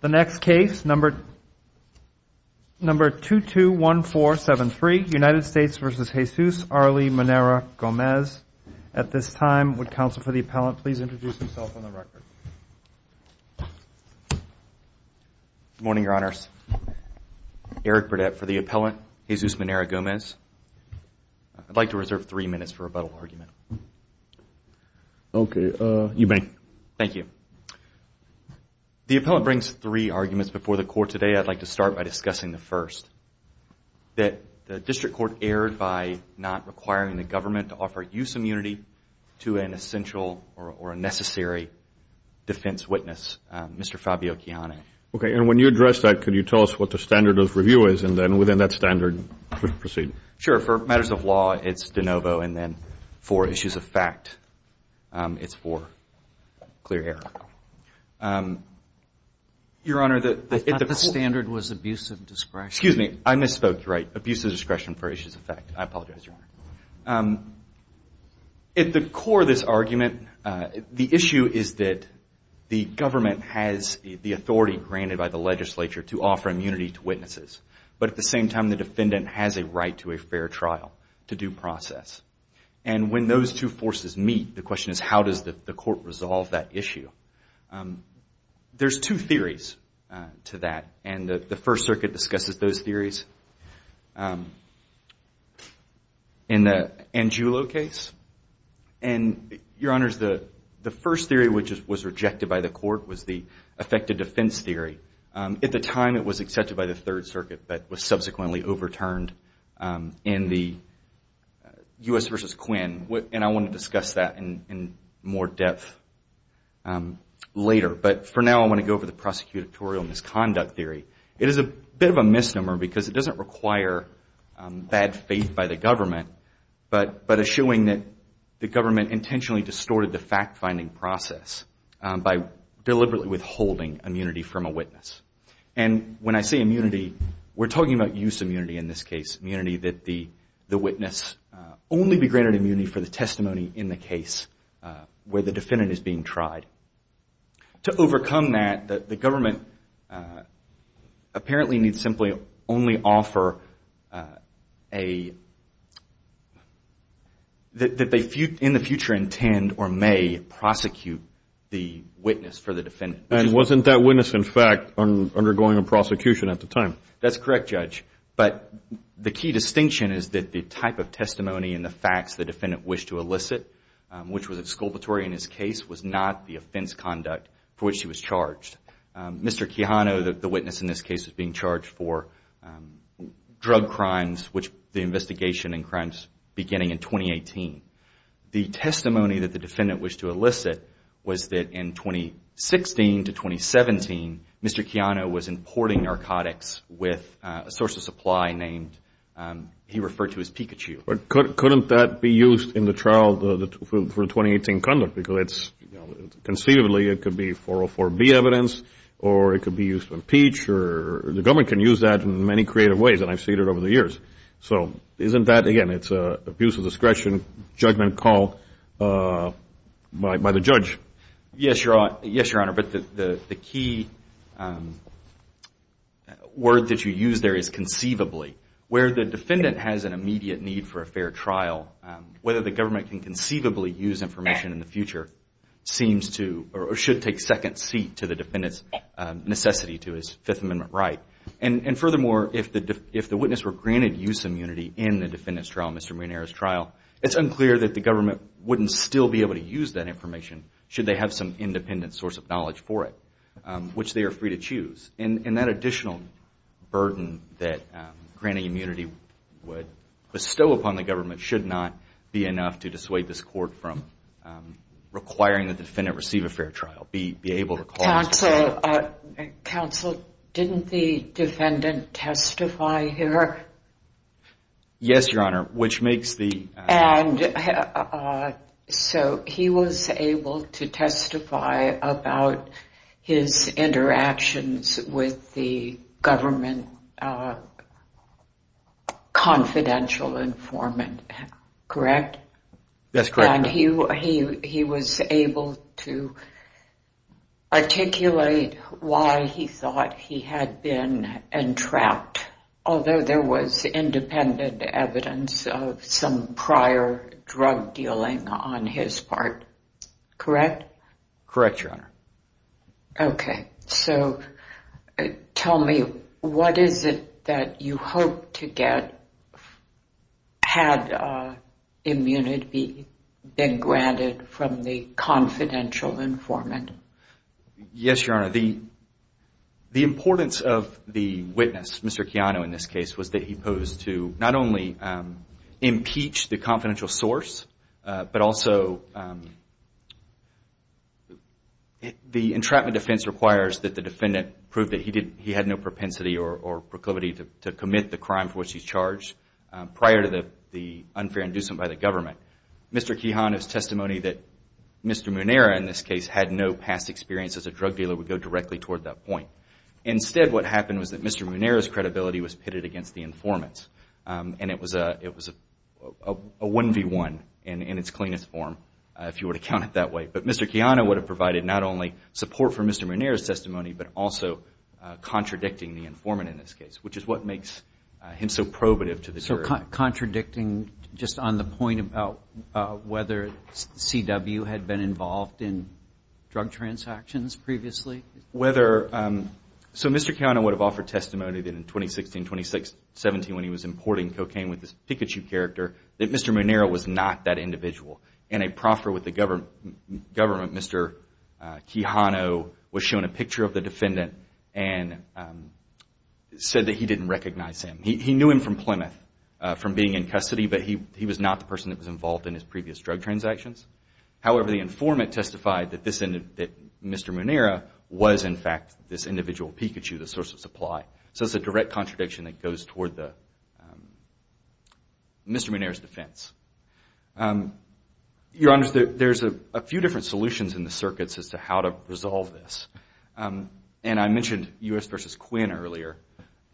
The next case, number 221473, United States v. Jesus Arley Munera-Gomez. At this time, would counsel for the appellant please introduce himself on the record. Good morning, Your Honors. Eric Burdett for the appellant, Jesus Munera-Gomez. I'd like to reserve three minutes for rebuttal argument. Okay. Eubank. Thank you. The appellant brings three arguments before the court today. I'd like to start by discussing the first, that the district court erred by not requiring the government to offer use immunity to an essential or a necessary defense witness, Mr. Fabio Chiane. Okay, and when you address that, could you tell us what the standard of review is, and then within that standard proceed? Sure. For matters of law, it's de novo, and then for issues of fact, it's for clear error. Your Honor, the standard was abuse of discretion. Excuse me. I misspoke, right? Abuse of discretion for issues of fact. I apologize, Your Honor. At the core of this argument, the issue is that the government has the authority granted by the legislature to offer immunity to witnesses, but at the same time, the defendant has a right to a fair trial, to due process. And when those two forces meet, the question is, how does the court resolve that issue? There's two theories to that, and the First Circuit discusses those theories in the Angiulo case. And, Your Honors, the first theory, which was rejected by the court, was the effective defense theory. At the time, it was accepted by the Third Circuit, but was subsequently overturned in the U.S. v. Quinn, and I want to discuss that in more depth later. But for now, I want to go over the prosecutorial misconduct theory. It is a bit of a misnomer because it doesn't require bad faith by the government, but assuring that the government intentionally distorted the fact-finding process by deliberately withholding immunity from a witness. And when I say immunity, we're talking about use immunity in this case, immunity that the witness only be granted immunity for the testimony in the case where the defendant is being tried. To overcome that, the government apparently needs simply only offer that they, in the future, intend or may prosecute the witness for the defendant. And wasn't that witness, in fact, undergoing a prosecution at the time? That's correct, Judge. But the key distinction is that the type of testimony and the facts the defendant wished to elicit, which was exculpatory in his case, was not the offense conduct for which he was charged. Mr. Chiano, the witness in this case, was being charged for drug crimes, the investigation in crimes beginning in 2018. The testimony that the defendant wished to elicit was that in 2016 to 2017, Mr. Chiano was importing narcotics with a source of supply named, he referred to as Pikachu. But couldn't that be used in the trial for 2018 conduct? Because it's, conceivably, it could be 404B evidence, or it could be used to impeach, or the government can use that in many creative ways, and I've seen it over the years. So isn't that, again, it's an abuse of discretion judgment call by the judge? Yes, Your Honor, but the key word that you use there is conceivably. Where the defendant has an immediate need for a fair trial, whether the government can conceivably use information in the future seems to, or should take second seat to the defendant's necessity to his Fifth Amendment right. And furthermore, if the witness were granted use immunity in the defendant's trial, Mr. Munera's trial, it's unclear that the government wouldn't still be able to use that information should they have some independent source of knowledge for it, which they are free to choose. And that additional burden that granting immunity would bestow upon the government should not be enough to dissuade this court from requiring that the defendant receive a fair trial. Counsel, didn't the defendant testify here? Yes, Your Honor, which makes the... So he was able to testify about his interactions with the government confidential informant, correct? That's correct. And he was able to articulate why he thought he had been entrapped, although there was independent evidence of some prior drug dealing on his part, correct? Correct, Your Honor. Okay, so tell me what is it that you hope to get had immunity been granted from the confidential informant? Yes, Your Honor, the importance of the witness, Mr. Quijano in this case, was that he posed to not only impeach the confidential source, but also the entrapment defense requires that the defendant prove that he had no propensity or proclivity to commit the crime for which he's charged prior to the unfair inducement by the government. Mr. Quijano's testimony that Mr. Munera in this case had no past experience as a drug dealer would go directly toward that point. Instead, what happened was that Mr. Munera's credibility was pitted against the informant's, and it was a 1 v. 1 in its cleanest form, if you were to count it that way. But Mr. Quijano would have provided not only support for Mr. Munera's testimony, but also contradicting the informant in this case, which is what makes him so probative to the jury. Contradicting just on the point about whether CW had been involved in drug transactions previously? So Mr. Quijano would have offered testimony that in 2016, 2017, when he was importing cocaine with this Pikachu character, that Mr. Munera was not that individual. In a proffer with the government, Mr. Quijano was shown a picture of the defendant and said that he didn't recognize him. He knew him from Plymouth, from being in custody, but he was not the person that was involved in his previous drug transactions. However, the informant testified that Mr. Munera was, in fact, this individual Pikachu, the source of supply. So it's a direct contradiction that goes toward Mr. Munera's defense. Your Honor, there's a few different solutions in the circuits as to how to resolve this. And I mentioned U.S. v. Quinn earlier.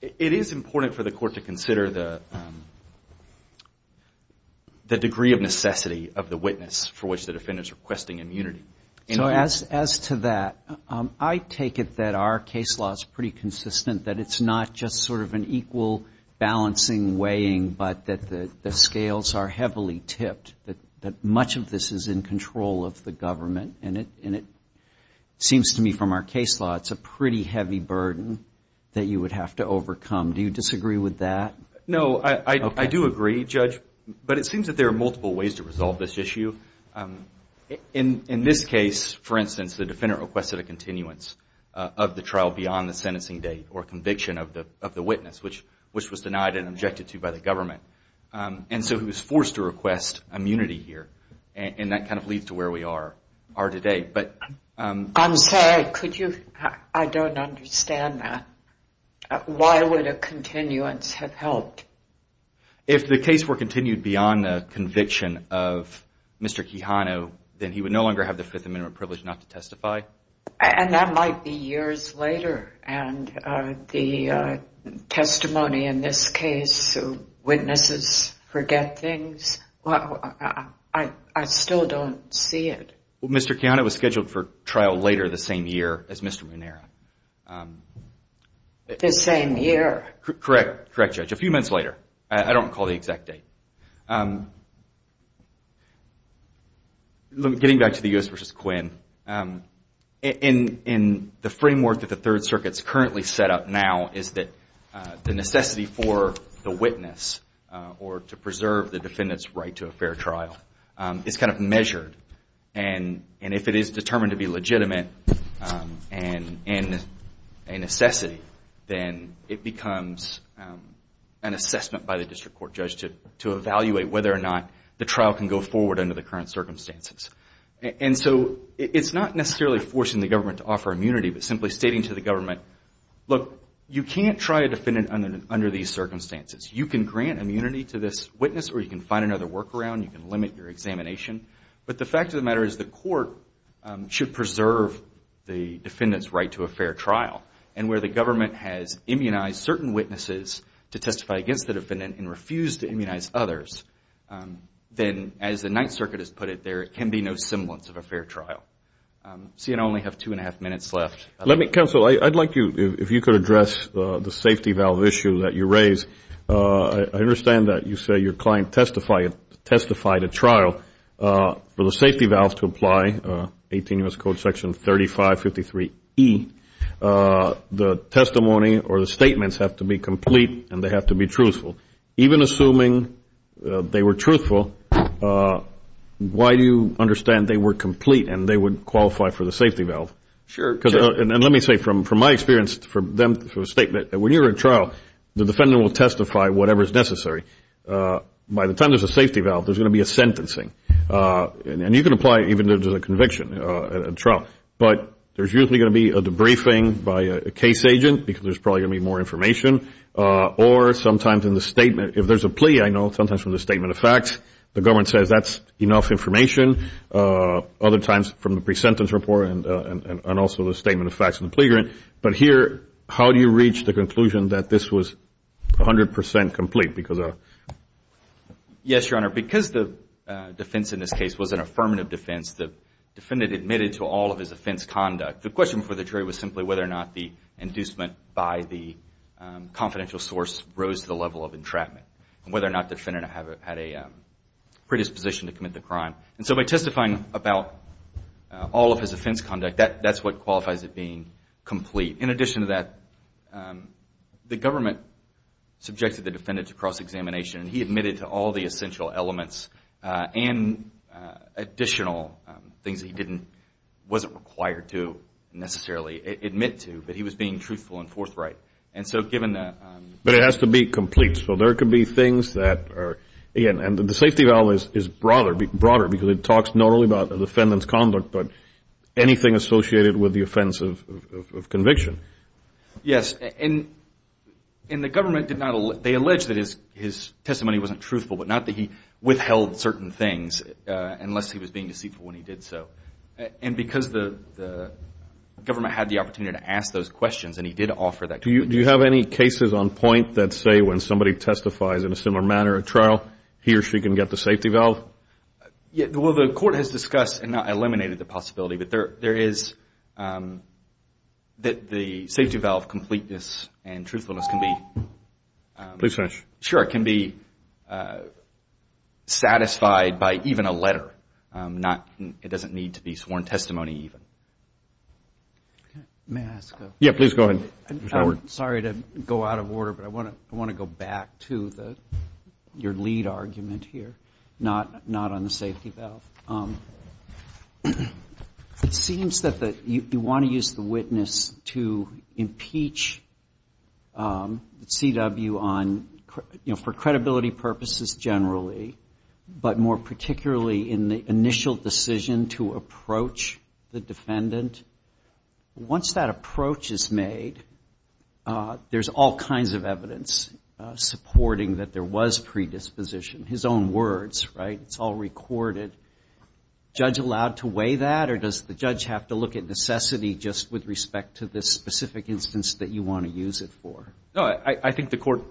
It is important for the court to consider the degree of necessity of the witness for which the defendant is requesting immunity. So as to that, I take it that our case law is pretty consistent, that it's not just sort of an equal balancing weighing, but that the scales are heavily tipped, that much of this is in control of the government. And it seems to me from our case law, it's a pretty heavy burden that you would have to overcome. Do you disagree with that? No, I do agree, Judge. But it seems that there are multiple ways to resolve this issue. In this case, for instance, the defendant requested a continuance of the trial beyond the sentencing date or conviction of the witness, which was denied and objected to by the government. And so he was forced to request immunity here. And that kind of leads to where we are today. I'm sorry, I don't understand that. Why would a continuance have helped? If the case were continued beyond the conviction of Mr. Quijano, then he would no longer have the Fifth Amendment privilege not to testify. And that might be years later. And the testimony in this case, witnesses forget things. I still don't see it. Well, Mr. Quijano was scheduled for trial later the same year as Mr. Munera. The same year? Correct, Judge, a few months later. I don't recall the exact date. Getting back to the U.S. v. Quinn, in the framework that the Third Circuit's currently set up now is that the necessity for the witness or to preserve the defendant's right to a fair trial is kind of measured. And if it is determined to be legitimate and a necessity, then it becomes an assessment by the district court judge to evaluate whether or not the trial can go forward under the current circumstances. And so it's not necessarily forcing the government to offer immunity, but simply stating to the government, look, you can't try a defendant under these circumstances. You can grant immunity to this witness or you can find another workaround. You can limit your examination. But the fact of the matter is the court should preserve the defendant's right to a fair trial. And where the government has immunized certain witnesses to testify against the defendant and refused to immunize others, then, as the Ninth Circuit has put it, there can be no semblance of a fair trial. I only have two and a half minutes left. Counsel, I'd like you, if you could address the safety valve issue that you raised. I understand that you say your client testified at trial. For the safety valve to apply, 18 U.S. Code Section 3553E, the testimony or the statements have to be complete and they have to be truthful. Even assuming they were truthful, why do you understand they were complete and they would qualify for the safety valve? Sure. And let me say, from my experience, for them, for a statement, when you're at trial, the defendant will testify, whatever is necessary. By the time there's a safety valve, there's going to be a sentencing. And you can apply even to the conviction at trial. But there's usually going to be a debriefing by a case agent because there's probably going to be more information. Or sometimes in the statement, if there's a plea, I know sometimes from the statement of facts, the government says that's enough information. Other times from the pre-sentence report and also the statement of facts and the plea grant. But here, how do you reach the conclusion that this was 100% complete? Yes, Your Honor, because the defense in this case was an affirmative defense, the defendant admitted to all of his offense conduct. The question before the jury was simply whether or not the inducement by the confidential source rose to the level of entrapment and whether or not the defendant had a predisposition to commit the crime. And so by testifying about all of his offense conduct, that's what qualifies as being complete. In addition to that, the government subjected the defendant to cross-examination, and he admitted to all the essential elements and additional things that he wasn't required to necessarily admit to, but he was being truthful and forthright. But it has to be complete. So there could be things that are, again, and the safety valve is broader because it talks not only about the defendant's conduct but anything associated with the offense of conviction. Yes, and the government did not, they alleged that his testimony wasn't truthful, but not that he withheld certain things unless he was being deceitful when he did so. And because the government had the opportunity to ask those questions, and he did offer that. Do you have any cases on point that say when somebody testifies in a similar manner at trial, he or she can get the safety valve? Well, the court has discussed and not eliminated the possibility, but there is that the safety valve completeness and truthfulness can be satisfied by even a letter. It doesn't need to be sworn testimony even. May I ask a question? Yes, please go ahead. Sorry to go out of order, but I want to go back to your lead argument here, not on the safety valve. It seems that you want to use the witness to impeach CW for credibility purposes generally, but more particularly in the initial decision to approach the defendant. Once that approach is made, there's all kinds of evidence supporting that there was predisposition. His own words, right? It's all recorded. Judge allowed to weigh that, or does the judge have to look at necessity just with respect to this specific instance that you want to use it for? I think the court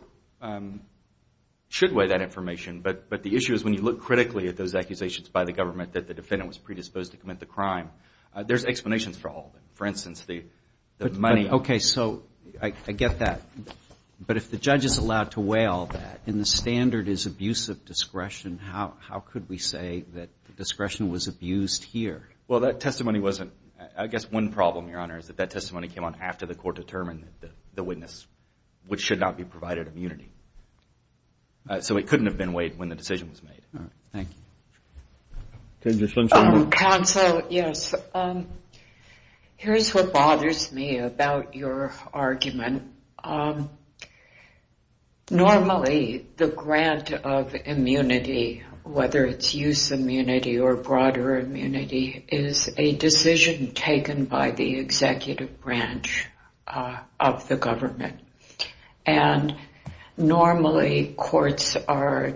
should weigh that information, but the issue is when you look critically at those accusations by the government that the defendant was predisposed to commit the crime, there's explanations for all of them. For instance, the money. Okay, so I get that, but if the judge is allowed to weigh all that, and the standard is abuse of discretion, how could we say that the discretion was abused here? Well, that testimony wasn't. I guess one problem, Your Honor, is that that testimony came on after the court determined that the witness should not be provided immunity. So it couldn't have been weighed when the decision was made. All right. Thank you. Counsel, yes. Here's what bothers me about your argument. Normally the grant of immunity, whether it's use immunity or broader immunity, is a decision taken by the executive branch of the government. And normally courts are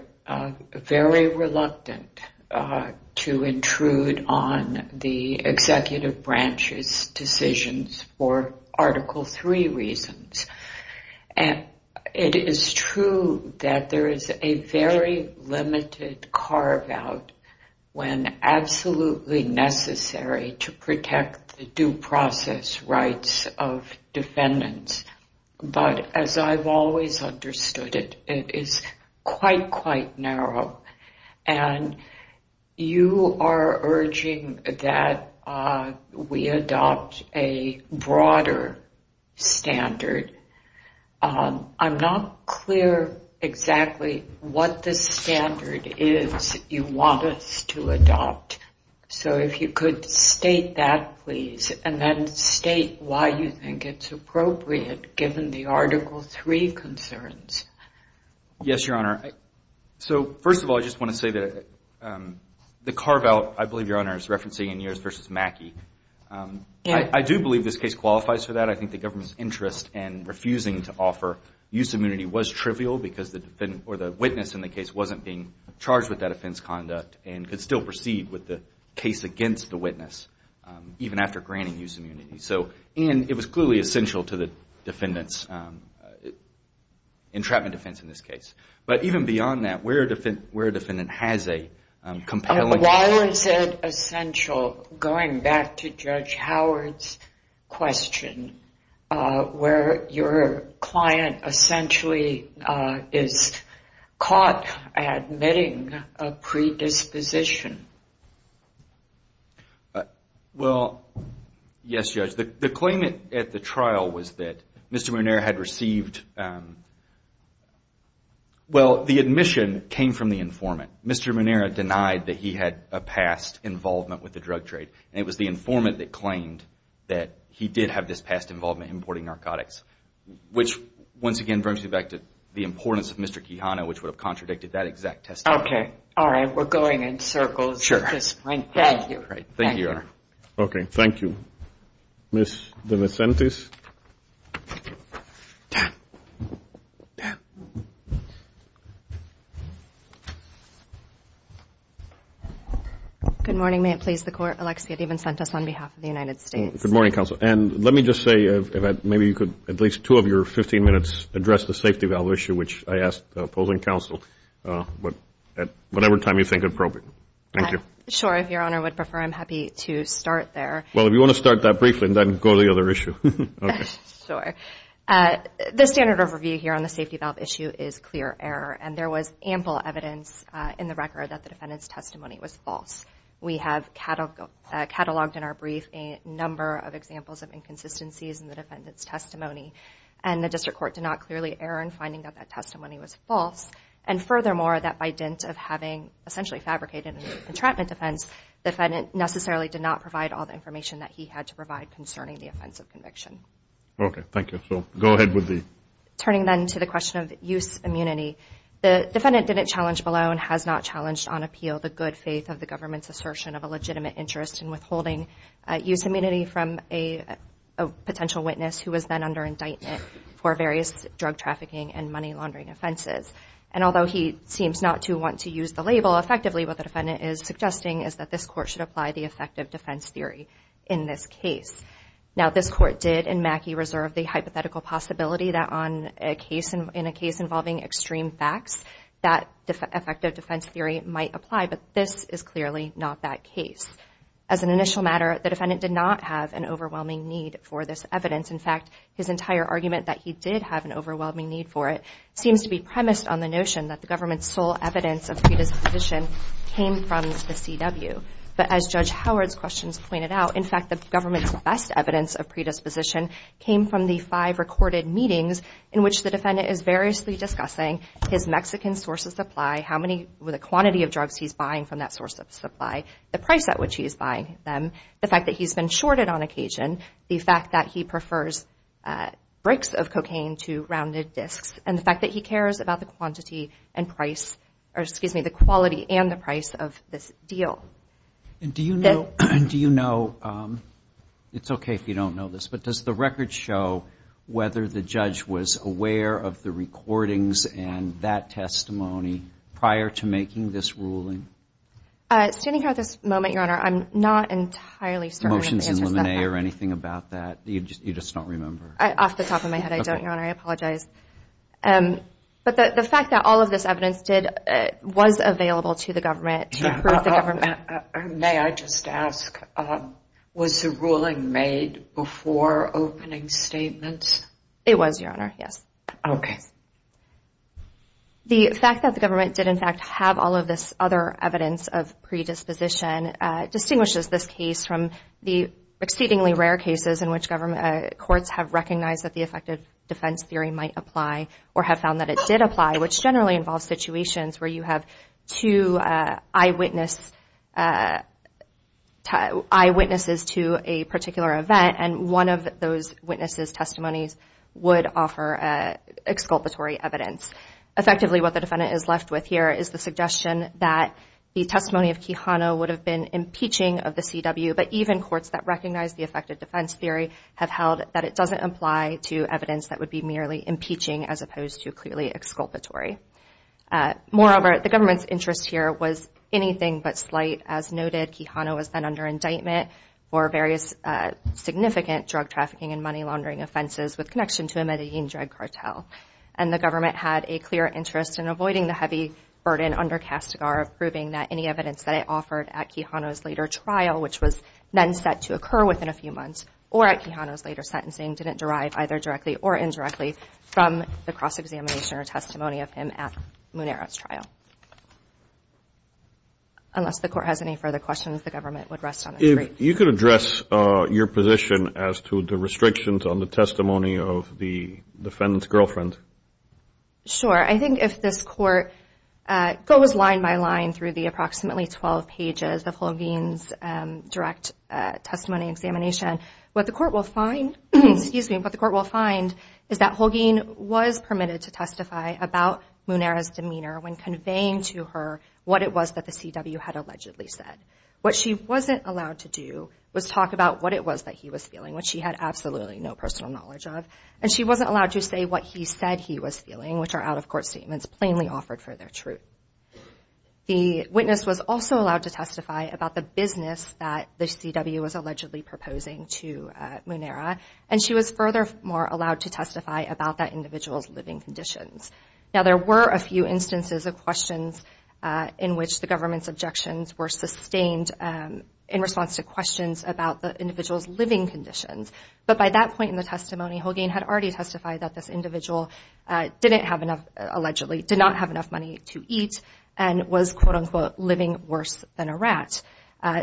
very reluctant to intrude on the executive branch's decisions for Article III reasons. It is true that there is a very limited carve-out when absolutely necessary to protect the due process rights of defendants. But as I've always understood it, it is quite, quite narrow. And you are urging that we adopt a broader standard. I'm not clear exactly what the standard is you want us to adopt. So if you could state that, please, and then state why you think it's appropriate given the Article III concerns. Yes, Your Honor. So first of all, I just want to say that the carve-out, I believe, Your Honor, is referencing in yours versus Mackey. I do believe this case qualifies for that. I think the government's interest in refusing to offer use immunity was trivial because the witness in the case wasn't being charged with that offense conduct and could still proceed with the case against the witness, even after granting use immunity. And it was clearly essential to the defendant's entrapment defense in this case. But even beyond that, where a defendant has a compelling... Why is it essential, going back to Judge Howard's question, where your client essentially is caught admitting a predisposition? Well, yes, Judge. The claim at the trial was that Mr. Munera had received... Well, the admission came from the informant. Mr. Munera denied that he had a past involvement with the drug trade. And it was the informant that claimed that he did have this past involvement in importing narcotics, which, once again, brings me back to the importance of Mr. Quijano, which would have contradicted that exact testimony. Okay, all right. We're going in circles at this point. Thank you. Thank you, Your Honor. Okay, thank you. Ms. DeVicentes. Dan, Dan. Good morning. May it please the Court. Alexia DeVicentes on behalf of the United States. Good morning, Counsel. And let me just say, if maybe you could, at least two of your 15 minutes, address the safety valve issue, which I asked the opposing counsel, at whatever time you think appropriate. Thank you. Sure, if Your Honor would prefer, I'm happy to start there. Well, if you want to start that briefly and then go to the other issue. Okay. Sure. The standard overview here on the safety valve issue is clear error. And there was ample evidence in the record that the defendant's testimony was false. We have cataloged in our brief a number of examples of inconsistencies in the defendant's testimony. And the District Court did not clearly err in finding that that testimony was false. And furthermore, that by dint of having essentially fabricated a contraption defense, the defendant necessarily did not provide all the information that he had to provide concerning the offense of conviction. Okay, thank you. So go ahead with the. Turning then to the question of use immunity, the defendant didn't challenge below and has not challenged on appeal the good faith of the government's assertion of a legitimate interest in withholding use immunity from a potential witness who was then under indictment for various drug trafficking and money laundering offenses. And although he seems not to want to use the label, effectively what the defendant is suggesting is that this court should apply the effective defense theory in this case. Now this court did in Mackey reserve the hypothetical possibility that on a case involving extreme facts that effective defense theory might apply, but this is clearly not that case. As an initial matter, the defendant did not have an overwhelming need for this evidence. In fact, his entire argument that he did have an overwhelming need for it seems to be premised on the notion that the government's sole evidence of predisposition came from the CW. But as Judge Howard's questions pointed out, in fact the government's best evidence of predisposition came from the five recorded meetings in which the defendant is variously discussing his Mexican source of supply, how many, the quantity of drugs he's buying from that source of supply, the price at which he is buying them, the fact that he's been shorted on occasion, the fact that he prefers bricks of cocaine to rounded discs, and the fact that he cares about the quantity and price, or excuse me, the quality and the price of this deal. And do you know, it's okay if you don't know this, but does the record show whether the judge was aware of the recordings and that testimony prior to making this ruling? Standing here at this moment, Your Honor, I'm not entirely certain that the answer is that. Motions in limine or anything about that? You just don't remember? Off the top of my head, I don't, Your Honor, I apologize. But the fact that all of this evidence was available to the government to May I just ask, was the ruling made before opening statements? It was, Your Honor, yes. Okay. The fact that the government did, in fact, have all of this other evidence of predisposition, distinguishes this case from the exceedingly rare cases in which government courts have recognized that the effective defense theory might apply or have found that it did apply, which generally involves situations where you have two eyewitnesses to a particular event, and one of those witnesses' testimonies would offer exculpatory evidence. Effectively, what the defendant is left with here is the suggestion that the testimony of Kehano would have been impeaching of the CW, but even courts that recognize the effective defense theory have held that it doesn't apply to evidence that would be merely impeaching as opposed to absolutely exculpatory. Moreover, the government's interest here was anything but slight. As noted, Kehano was then under indictment for various significant drug trafficking and money laundering offenses with connection to a Medellin drug cartel. And the government had a clear interest in avoiding the heavy burden under Castigar of proving that any evidence that it offered at Kehano's later trial, which was then set to occur within a few months, or at Kehano's later sentencing, didn't derive either directly or indirectly from the cross-examination or testimony of him at Munera's trial. Unless the court has any further questions, the government would rest on its feet. If you could address your position as to the restrictions on the testimony of the defendant's girlfriend. Sure. I think if this court goes line by line through the approximately 12 pages of Holguin's direct testimony examination, what the court will find, excuse me, what the court will find is that Holguin was permitted to testify about Munera's demeanor when conveying to her what it was that the CW had allegedly said. What she wasn't allowed to do was talk about what it was that he was feeling, which she had absolutely no personal knowledge of. And she wasn't allowed to say what he said he was feeling, which are out-of-court statements plainly offered for their truth. The witness was also allowed to testify about the business that the CW was offering to Munera. And she was furthermore allowed to testify about that individual's living conditions. Now there were a few instances of questions in which the government's objections were sustained in response to questions about the individual's living conditions. But by that point in the testimony, Holguin had already testified that this individual didn't have enough, allegedly, did not have enough money to eat, and was quote-unquote living worse than a rat.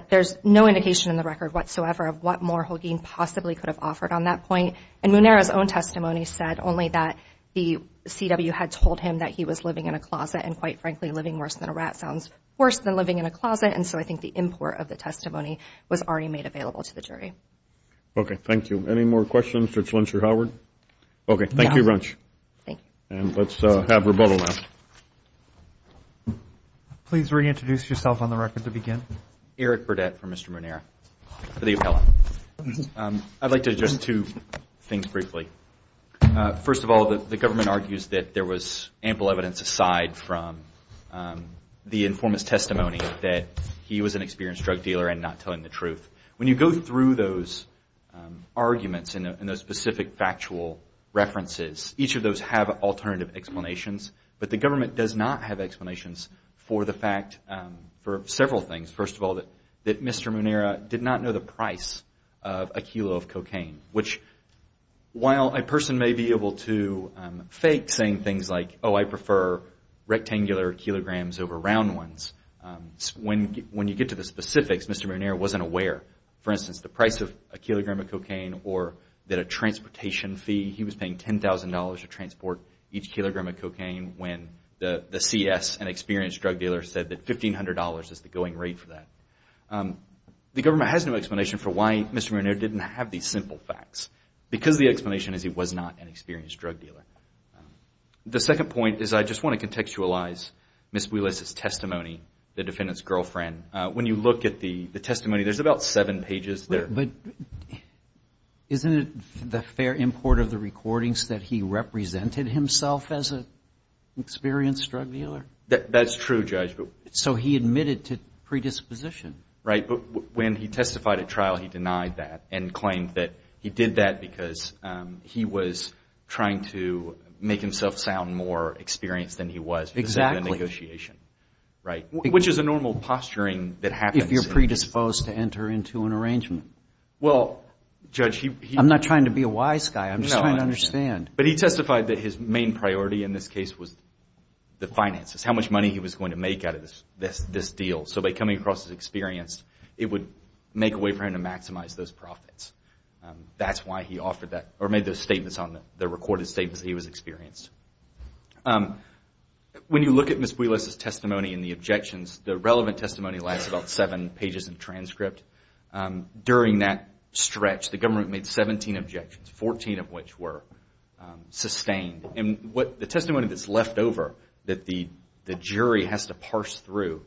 There's no indication in the record whatsoever of what more Holguin possibly could have offered on that point. And Munera's own testimony said only that the CW had told him that he was living in a closet and, quite frankly, living worse than a rat sounds worse than living in a closet. And so I think the import of the testimony was already made available to the jury. Okay. Thank you. Any more questions? Judge Lynch or Howard? Okay. Thank you very much. Thank you. And let's have rebuttal now. Please reintroduce yourself on the record to begin. Eric Burdette for Mr. Munera for the appellate. I'd like to address two things briefly. First of all, the government argues that there was ample evidence aside from the informant's testimony that he was an experienced drug dealer and not telling the truth. When you go through those arguments and those specific factual references, each of those have alternative explanations, but the government does not have explanations for the fact, for several things. First of all, that Mr. Munera did not know the price of a kilo of cocaine, which while a person may be able to fake saying things like, oh, I prefer rectangular kilograms over round ones, when you get to the specifics, Mr. Munera wasn't aware. For instance, the price of a kilogram of cocaine or that a transportation fee, he was paying $10,000 to transport each kilogram of cocaine when the CS, an experienced drug dealer, said that $1,500 is the going rate for that. The government has no explanation for why Mr. Munera didn't have these simple facts, because the explanation is he was not an experienced drug dealer. The second point is I just want to contextualize Ms. Wheelis' testimony, the defendant's girlfriend. When you look at the testimony, there's about seven pages there. Isn't it the fair import of the recordings that he represented himself as an experienced drug dealer? That's true, Judge. So he admitted to predisposition. Right, but when he testified at trial, he denied that and claimed that he did that because he was trying to make himself sound more experienced than he was. Exactly. In the negotiation, which is a normal posturing that happens. If you're predisposed to enter into an arrangement. Well, Judge, I'm not trying to be a wise guy. I'm just trying to understand. But he testified that his main priority in this case was the finances, how much money he was going to make out of this deal. So by coming across as experienced, it would make a way for him to maximize those profits. That's why he made the recorded statements that he was experienced. When you look at Ms. Wheelis' testimony and the objections, the relevant testimony lasts about seven pages in transcript. During that stretch, the government made 17 objections, 14 of which were sustained. And the testimony that's left over that the jury has to parse through,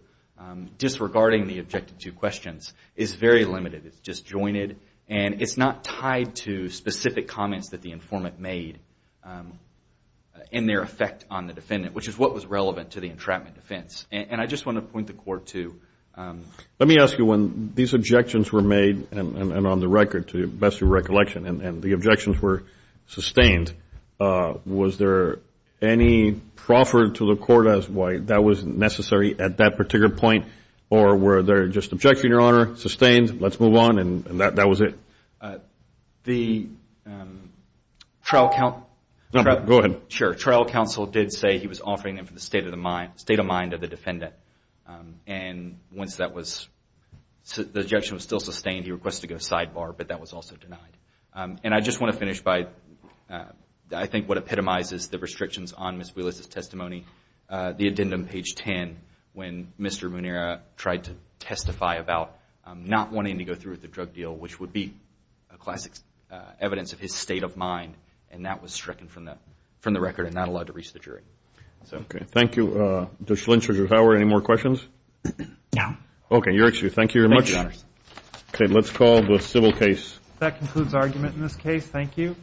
disregarding the objective two questions, is very limited. It's disjointed, and it's not tied to specific comments that the informant made in their effect on the defendant, which is what was relevant to the entrapment defense. And I just want to point the court to. Let me ask you, when these objections were made and on the record, to best your recollection, and the objections were sustained, was there any proffer to the court as to why that was necessary at that particular point, or were there just objections, Your Honor, sustained, let's move on, and that was it? The trial counsel did say he was offering them for the state of mind of the defendant. And once that was, the objection was still sustained, he requested to go sidebar, but that was also denied. And I just want to finish by, I think what epitomizes the restrictions on Ms. Wheeler's testimony, the addendum page 10, when Mr. Munira tried to testify about not wanting to go through with the drug deal, which would be a classic evidence of his state of mind, and that was stricken from the record and not allowed to reach the jury. Okay. Thank you. Judge Lynch, Judge Howard, any more questions? No. Okay. Thank you very much. Okay. Let's call the civil case. That concludes argument in this case. Thank you.